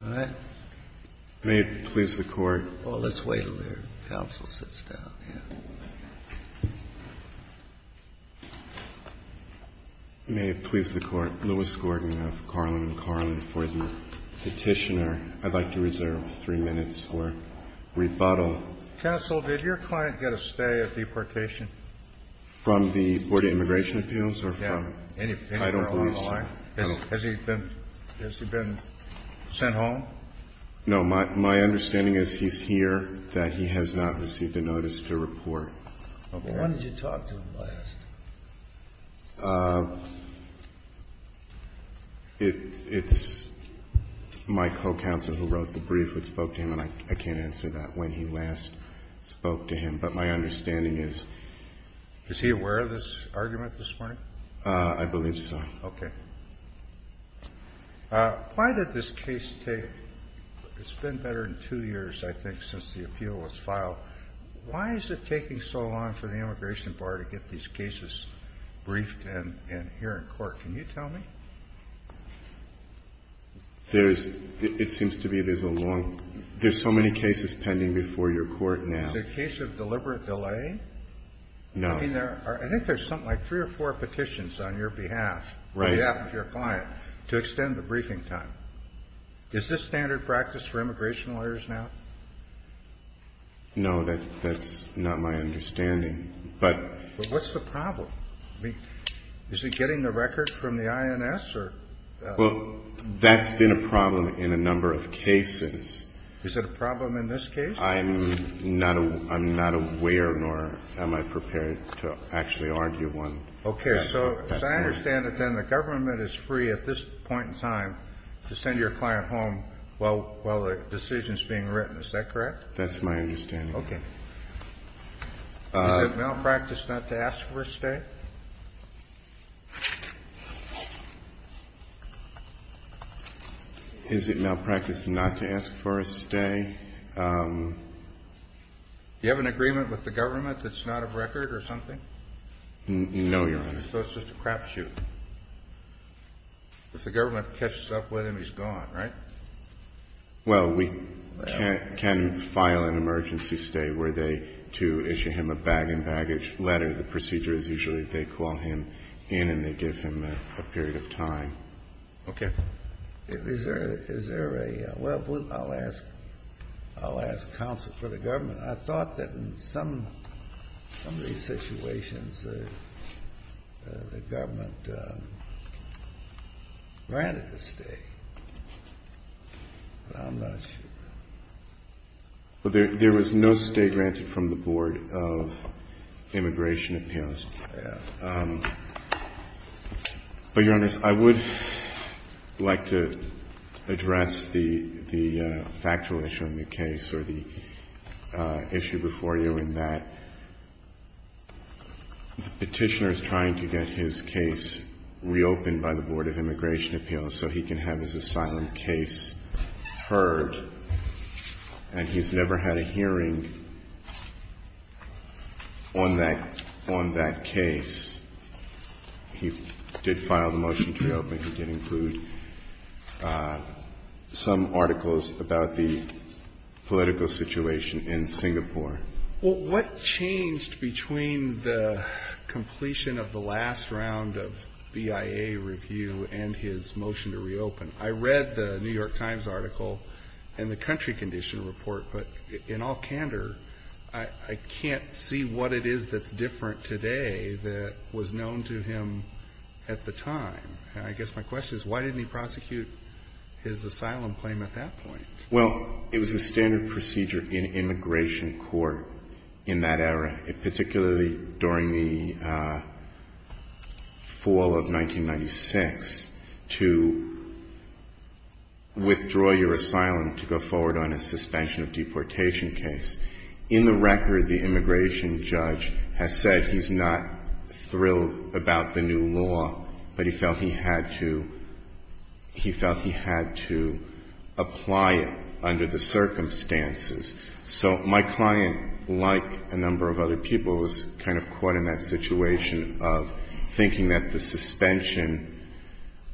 May it please the Court. Well, let's wait until the counsel sits down. May it please the Court. Lewis Gordon of Carlin & Carlin for the petitioner. I'd like to reserve three minutes for rebuttal. Counsel, did your client get a stay at deportation? From the Board of Immigration Appeals or from Title Police? Has he been sent home? No. My understanding is he's here, that he has not received a notice to report. When did you talk to him last? It's my co-counsel who wrote the brief that spoke to him, and I can't answer that. When he last spoke to him. But my understanding is. Is he aware of this argument this morning? I believe so. Okay. Why did this case take, it's been better than two years, I think, since the appeal was filed. Why is it taking so long for the Immigration Bar to get these cases briefed and here in court? Can you tell me? There's, it seems to be, there's a long, there's so many cases pending before your court now. Is it a case of deliberate delay? No. I mean, I think there's something like three or four petitions on your behalf, on behalf of your client, to extend the briefing time. Is this standard practice for immigration lawyers now? No, that's not my understanding, but. But what's the problem? I mean, is he getting the record from the INS or? Well, that's been a problem in a number of cases. Is it a problem in this case? I'm not aware, nor am I prepared to actually argue one. Okay. So as I understand it, then the government is free at this point in time to send your client home while the decision is being written. Is that correct? That's my understanding. Okay. Is it malpractice not to ask for a stay? Is it malpractice not to ask for a stay? Do you have an agreement with the government that's not a record or something? No, Your Honor. So it's just a crapshoot. If the government catches up with him, he's gone, right? Well, we can file an emergency stay where they do issue him a bag and baggage letter. The procedure is usually they call him in and they give him a period of time. Okay. Is there a – well, I'll ask counsel for the government. I thought that in some of these situations the government granted a stay, but I'm not sure. Well, there was no stay granted from the Board of Immigration Appeals. Yeah. But, Your Honor, I would like to address the factual issue on the case or the issue before you in that the petitioner is trying to get his case reopened by the Board of Immigration Appeals so he can have his asylum case heard, and he's never had a hearing on that case. He did file the motion to reopen. He did include some articles about the political situation in Singapore. Well, what changed between the completion of the last round of BIA review and his motion to reopen? I read the New York Times article and the country condition report, but in all candor, I can't see what it is that's different today that was known to him at the time. I guess my question is why didn't he prosecute his asylum claim at that point? Well, it was a standard procedure in immigration court in that era, particularly during the fall of 1996 to withdraw your asylum to go forward on a suspension of deportation case. In the record, the immigration judge has said he's not thrilled about the new law, but he felt he had to apply it under the circumstances. So my client, like a number of other people, was kind of caught in that situation of thinking that the suspension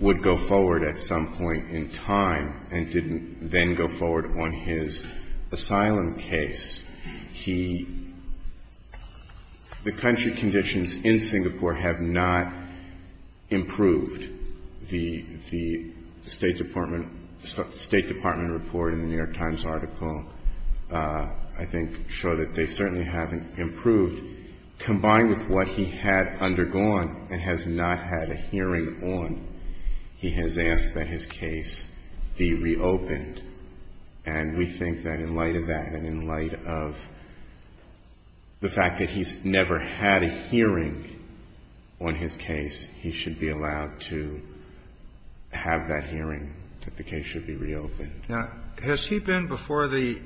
would go forward at some point in time and didn't then go forward on his asylum case. He — the country conditions in Singapore have not improved. The State Department report in the New York Times article, I think, show that they certainly haven't improved. Combined with what he had undergone and has not had a hearing on, he has asked that his case be reopened. And we think that in light of that and in light of the fact that he's never had a hearing on his case, he should be allowed to have that hearing, that the case should be reopened. Now, has he been before the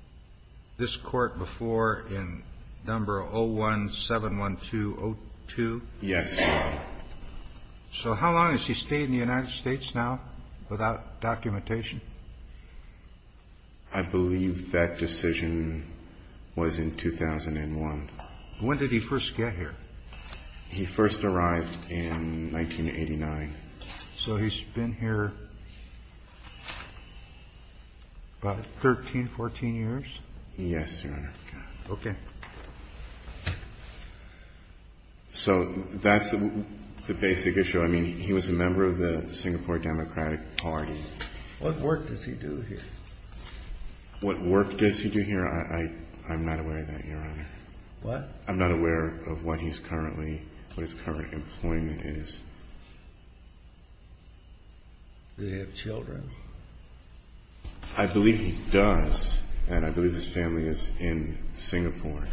— this Court before in number 0171202? Yes. So how long has he stayed in the United States now without documentation? I believe that decision was in 2001. When did he first get here? He first arrived in 1989. So he's been here about 13, 14 years? Yes, Your Honor. Okay. So that's the basic issue. I mean, he was a member of the Singapore Democratic Party. What work does he do here? What work does he do here? I'm not aware of that, Your Honor. What? I'm not aware of what he's currently — what his current employment is. Does he have children? I believe he does, and I believe his family is in Singapore.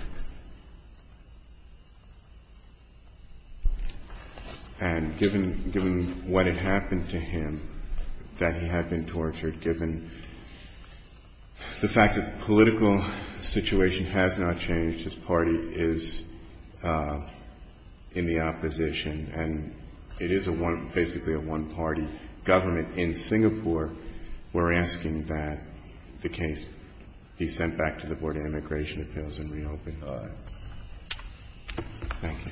And given what had happened to him, that he had been tortured, given the fact that the political situation has not changed, his party is in the opposition, and it is basically a one-party government in Singapore, we're asking that the case be sent back to the Board of Immigration Appeals and reopened. All right. Thank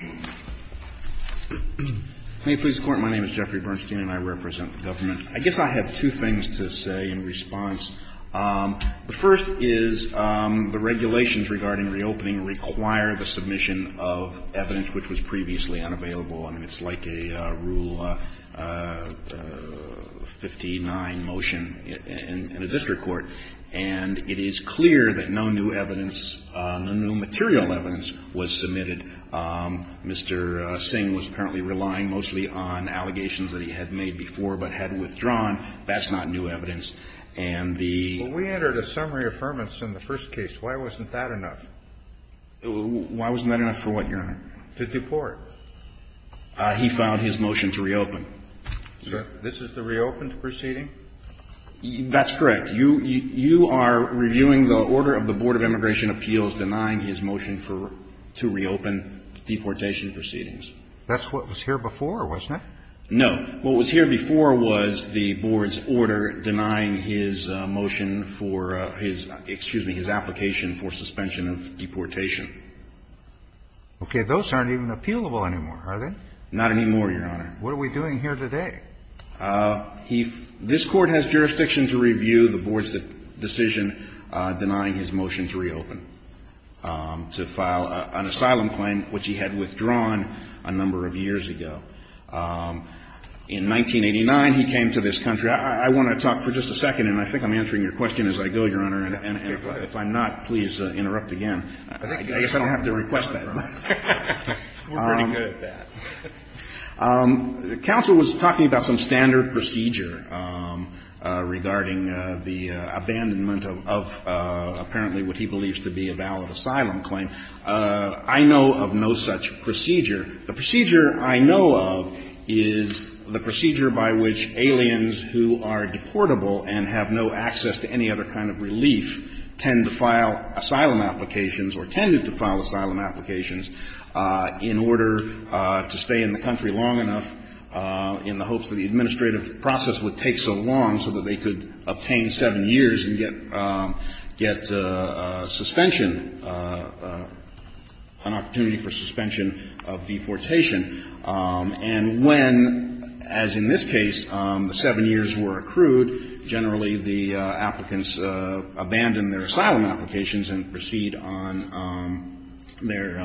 you. May it please the Court, my name is Jeffrey Bernstein, and I represent the government. I guess I have two things to say in response. The first is the regulations regarding reopening require the submission of evidence which was previously unavailable. I mean, it's like a Rule 59 motion in a district court. And it is clear that no new evidence, no new material evidence was submitted. Mr. Singh was apparently relying mostly on allegations that he had made before but hadn't withdrawn. That's not new evidence. And the — Well, we entered a summary affirmation in the first case. Why wasn't that enough? Why wasn't that enough for what, Your Honor? To deport. He filed his motion to reopen. Sir, this is the reopened proceeding? That's correct. You are reviewing the order of the Board of Immigration Appeals denying his motion for — to reopen deportation proceedings. That's what was here before, wasn't it? No. What was here before was the Board's order denying his motion for his — excuse me, his application for suspension of deportation. Okay. Those aren't even appealable anymore, are they? Not anymore, Your Honor. What are we doing here today? He — this Court has jurisdiction to review the Board's decision denying his motion to reopen, to file an asylum claim, which he had withdrawn a number of years ago. In 1989, he came to this country. I want to talk for just a second, and I think I'm answering your question as I go, Your Honor. And if I'm not, please interrupt again. I guess I don't have to request that. We're pretty good at that. Counsel was talking about some standard procedure regarding the abandonment of apparently what he believes to be a valid asylum claim. I know of no such procedure. The procedure I know of is the procedure by which aliens who are deportable and have no access to any other kind of relief tend to file asylum applications or tended to file asylum applications in order to stay in the country long enough in the hopes that the administrative process would take so long so that they could obtain 7 years and get — get suspension, an opportunity for suspension of deportation. And when, as in this case, the 7 years were accrued, generally the applicants abandon their asylum applications and proceed on their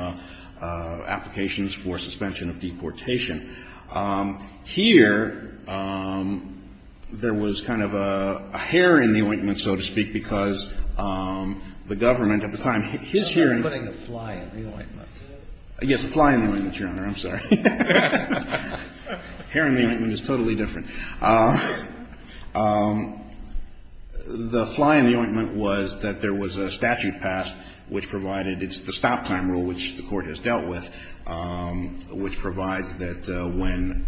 applications for suspension of deportation. Here, there was kind of a hair in the ointment, so to speak, because the government at the time, his hearing — You're putting a fly in the ointment. Yes, a fly in the ointment, Your Honor. I'm sorry. Hair in the ointment is totally different. The fly in the ointment was that there was a statute passed which provided — it's the stop time rule which the Court has dealt with, which provides that when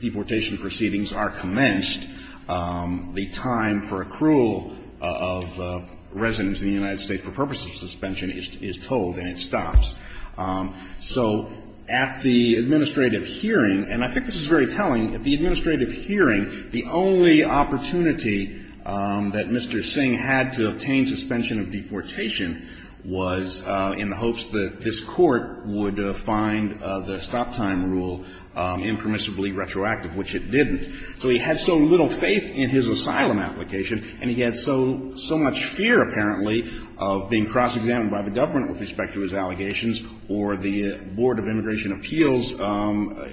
deportation proceedings are commenced, the time for accrual of residents in the United States for purposes of suspension is told and it stops. So at the administrative hearing — and I think this is very telling — at the administrative hearing, the only opportunity that Mr. Singh had to obtain suspension of deportation was in the hopes that this Court would find the stop time rule impermissibly retroactive, which it didn't. So he had so little faith in his asylum application and he had so — so much fear, apparently, of being cross-examined by the government with respect to his allegations or the Board of Immigration Appeals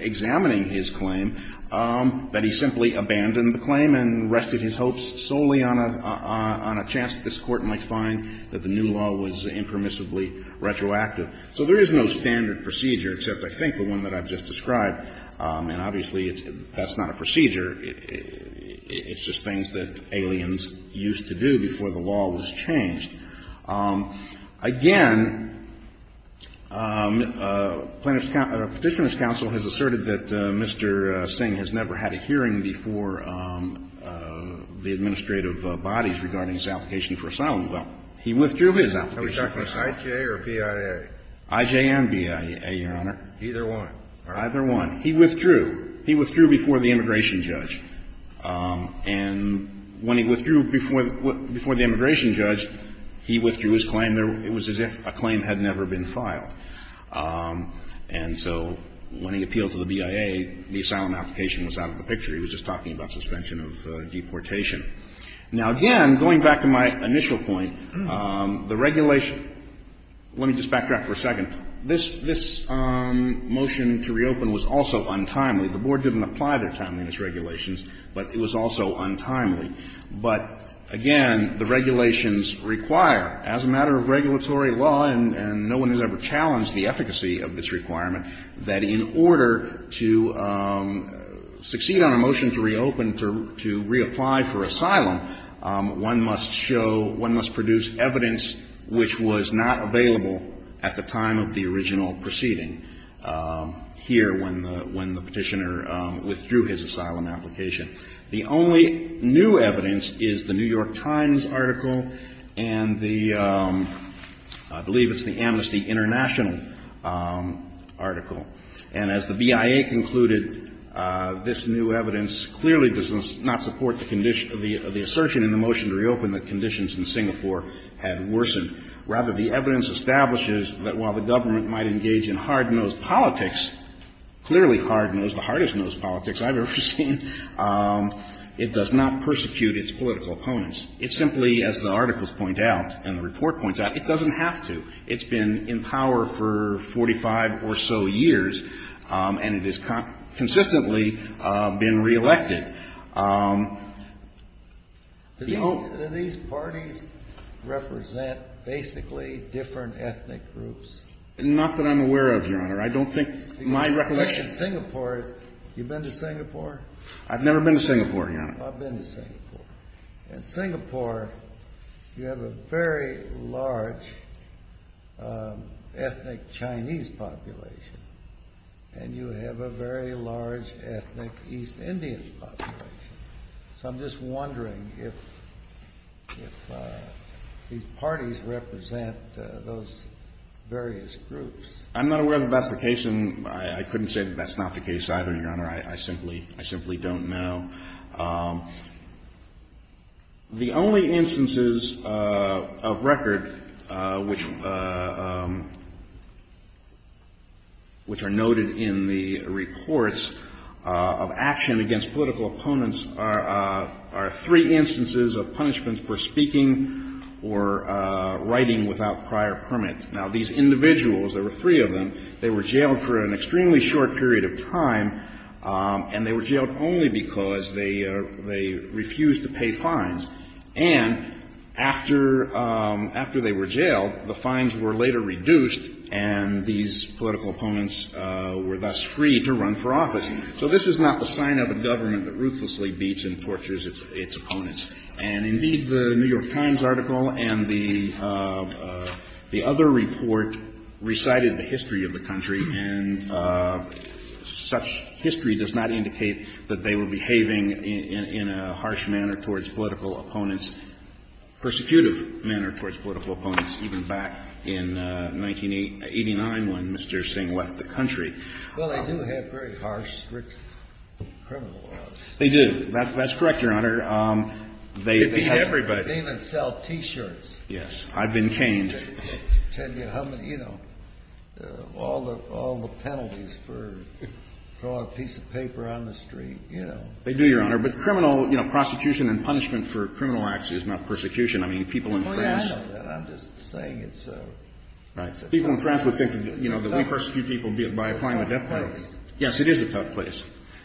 examining his claim that he simply abandoned the claim and rested his hopes solely on a — on a chance that this Court might find that the new law was impermissibly retroactive. So there is no standard procedure, except, I think, the one that I've just described. And it's just things that aliens used to do before the law was changed. Again, Plaintiff's — Petitioner's counsel has asserted that Mr. Singh has never had a hearing before the administrative bodies regarding his application for asylum. Well, he withdrew his application. Kennedy. Are we talking I.J. or B.I.A.? I.J. and B.I.A., Your Honor. Either one. Either one. He withdrew. He withdrew before the immigration judge. And when he withdrew before — before the immigration judge, he withdrew his claim. It was as if a claim had never been filed. And so when he appealed to the B.I.A., the asylum application was out of the picture. He was just talking about suspension of deportation. Now, again, going back to my initial point, the regulation — let me just backtrack for a second. This — this motion to reopen was also untimely. The Board didn't apply their timeliness regulations, but it was also untimely. But, again, the regulations require, as a matter of regulatory law, and no one has ever challenged the efficacy of this requirement, that in order to succeed on a motion to reopen, to reapply for asylum, one must show — one must produce evidence which was not available at the time of the original proceeding here when the — when the Petitioner withdrew his asylum application. The only new evidence is the New York Times article and the — I believe it's the Amnesty International article. And as the B.I.A. concluded, this new evidence clearly does not support the condition — the assertion in the motion to reopen that conditions in Singapore had worsened rather the evidence establishes that while the government might engage in hard-nosed politics, clearly hard-nosed, the hardest-nosed politics I've ever seen, it does not persecute its political opponents. It simply, as the articles point out and the report points out, it doesn't have to. It's been in power for 45 or so years, and it has consistently been reelected. The — Do these parties represent basically different ethnic groups? Not that I'm aware of, Your Honor. I don't think my recollection — You've been to Singapore? I've never been to Singapore, Your Honor. I've been to Singapore. In Singapore, you have a very large ethnic Chinese population, and you have a very large ethnic East Indian population. So I'm just wondering if these parties represent those various groups. I'm not aware that that's the case, and I couldn't say that that's not the case either, Your Honor. I simply — I simply don't know. The only instances of record which are noted in the reports of action against political opponents are three instances of punishments for speaking or writing without prior permit. Now, these individuals, there were three of them, they were jailed for an extremely short period of time, and they were jailed only because they refused to pay fines. And after they were jailed, the fines were later reduced, and these political opponents were thus free to run for office. So this is not the sign of a government that ruthlessly beats and tortures its opponents. And indeed, the New York Times article and the other report recited the history of the country, and such history does not indicate that they were behaving in a harsh manner towards political opponents, persecutive manner towards political opponents, even back in 1989 when Mr. Singh left the country. Well, they do have very harsh criminal laws. They do. That's correct, Your Honor. They beat everybody. They even sell T-shirts. Yes. I've been caned. They tell you how many, you know, all the penalties for throwing a piece of paper on the street, you know. They do, Your Honor. But criminal, you know, prosecution and punishment for criminal acts is not persecution. I mean, people in France — It's funny I know that. I'm just saying it's a — People in France would think that, you know, that we persecute people by applying the death penalty. It's a tough place. Yes, it is a tough place.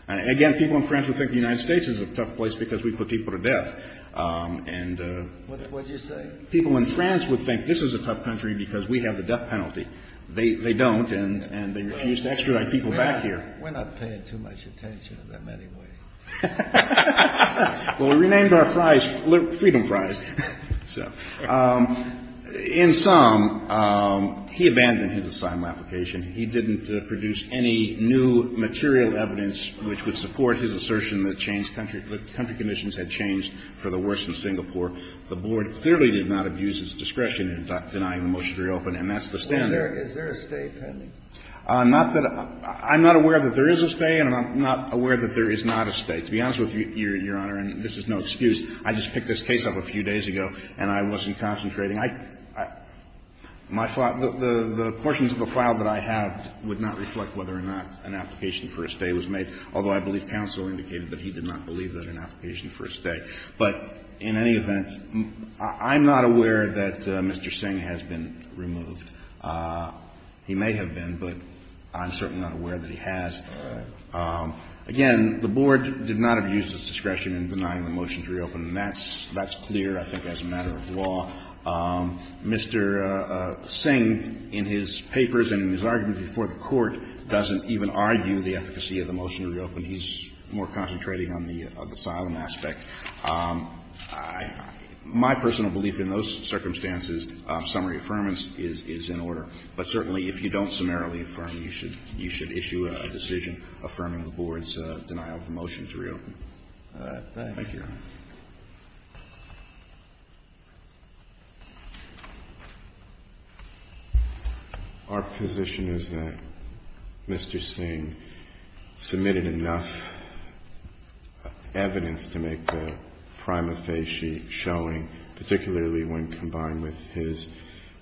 Again, people in France would think the United States is a tough place because we put people to death. And — What did you say? People in France would think this is a tough country because we have the death penalty. They don't, and they refuse to extradite people back here. We're not paying too much attention to them anyway. Well, we renamed our prize Freedom Prize. So in sum, he abandoned his asylum application. He didn't produce any new material evidence which would support his assertion that changed country — that country conditions had changed for the worse in Singapore. The Board clearly did not abuse its discretion in denying the motion to reopen, and that's the standard. Is there a stay pending? Not that — I'm not aware that there is a stay, and I'm not aware that there is not a stay. To be honest with you, Your Honor, and this is no excuse, I just picked this case up a few days ago, and I wasn't concentrating. I — my — the portions of the file that I have would not reflect whether or not an application for a stay was made, although I believe counsel indicated that he did not believe that an application for a stay. But in any event, I'm not aware that Mr. Singh has been removed. He may have been, but I'm certainly not aware that he has. All right. Again, the Board did not abuse its discretion in denying the motion to reopen, and that's — that's clear, I think, as a matter of law. Mr. Singh, in his papers and in his arguments before the Court, doesn't even argue the efficacy of the motion to reopen. He's more concentrating on the asylum aspect. I — my personal belief in those circumstances, summary affirmance is — is in order. But certainly, if you don't summarily affirm, you should — you should issue a decision affirming the Board's denial of the motion to reopen. All right. Thank you, Your Honor. Our position is that Mr. Singh submitted enough evidence to make the prima facie showing, particularly when combined with his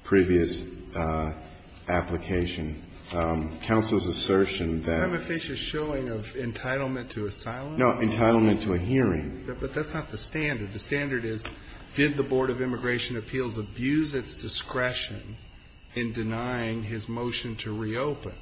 previous application. Counsel's assertion that — Prima facie showing of entitlement to asylum? No. Entitlement to a hearing. But that's not the standard. The standard is, did the Board of Immigration Appeals abuse its discretion in denying his motion to reopen?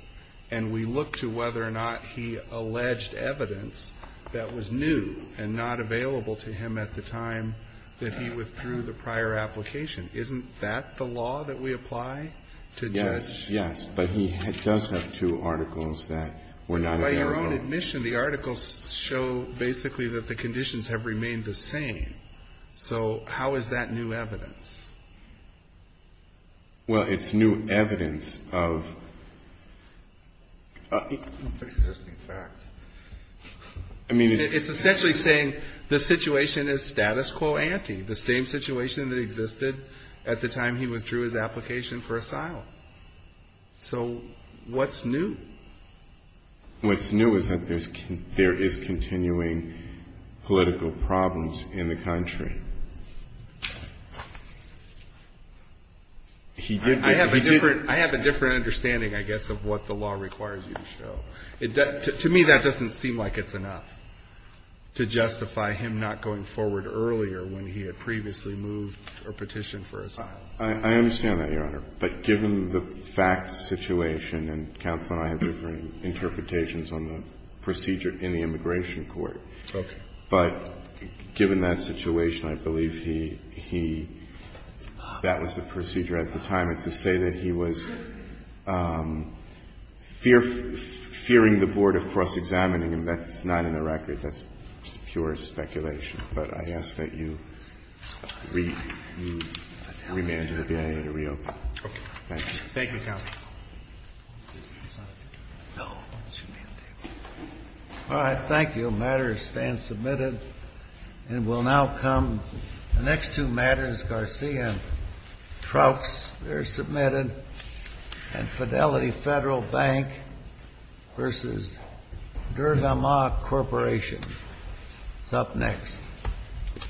And we look to whether or not he alleged evidence that was new and not available to him at the time that he withdrew the prior application. Isn't that the law that we apply to judge — Yes. Yes. But he does have two articles that were not available. By your own admission, the articles show basically that the conditions have remained the same. So how is that new evidence? Well, it's new evidence of existing facts. I mean — It's essentially saying the situation is status quo ante, the same situation that existed at the time he withdrew his application for asylum. So what's new? What's new is that there is continuing political problems in the country. He did — I have a different understanding, I guess, of what the law requires you to show. To me, that doesn't seem like it's enough to justify him not going forward earlier when he had previously moved or petitioned for asylum. I understand that, Your Honor. But given the facts situation, and counsel and I have different interpretations on the procedure in the immigration court, but given that situation, I believe he — that was the procedure at the time. It's to say that he was fearing the board of cross-examining him. That's not in the record. That's pure speculation. But I ask that you re-manage the BIA to reopen. Thank you. Thank you, counsel. All right. Thank you. Matters stand submitted. And we'll now come to the next two matters. Garcia and Trouts, they're submitted. And Fidelity Federal Bank v. Dergamma Corporation is up next. Thank you.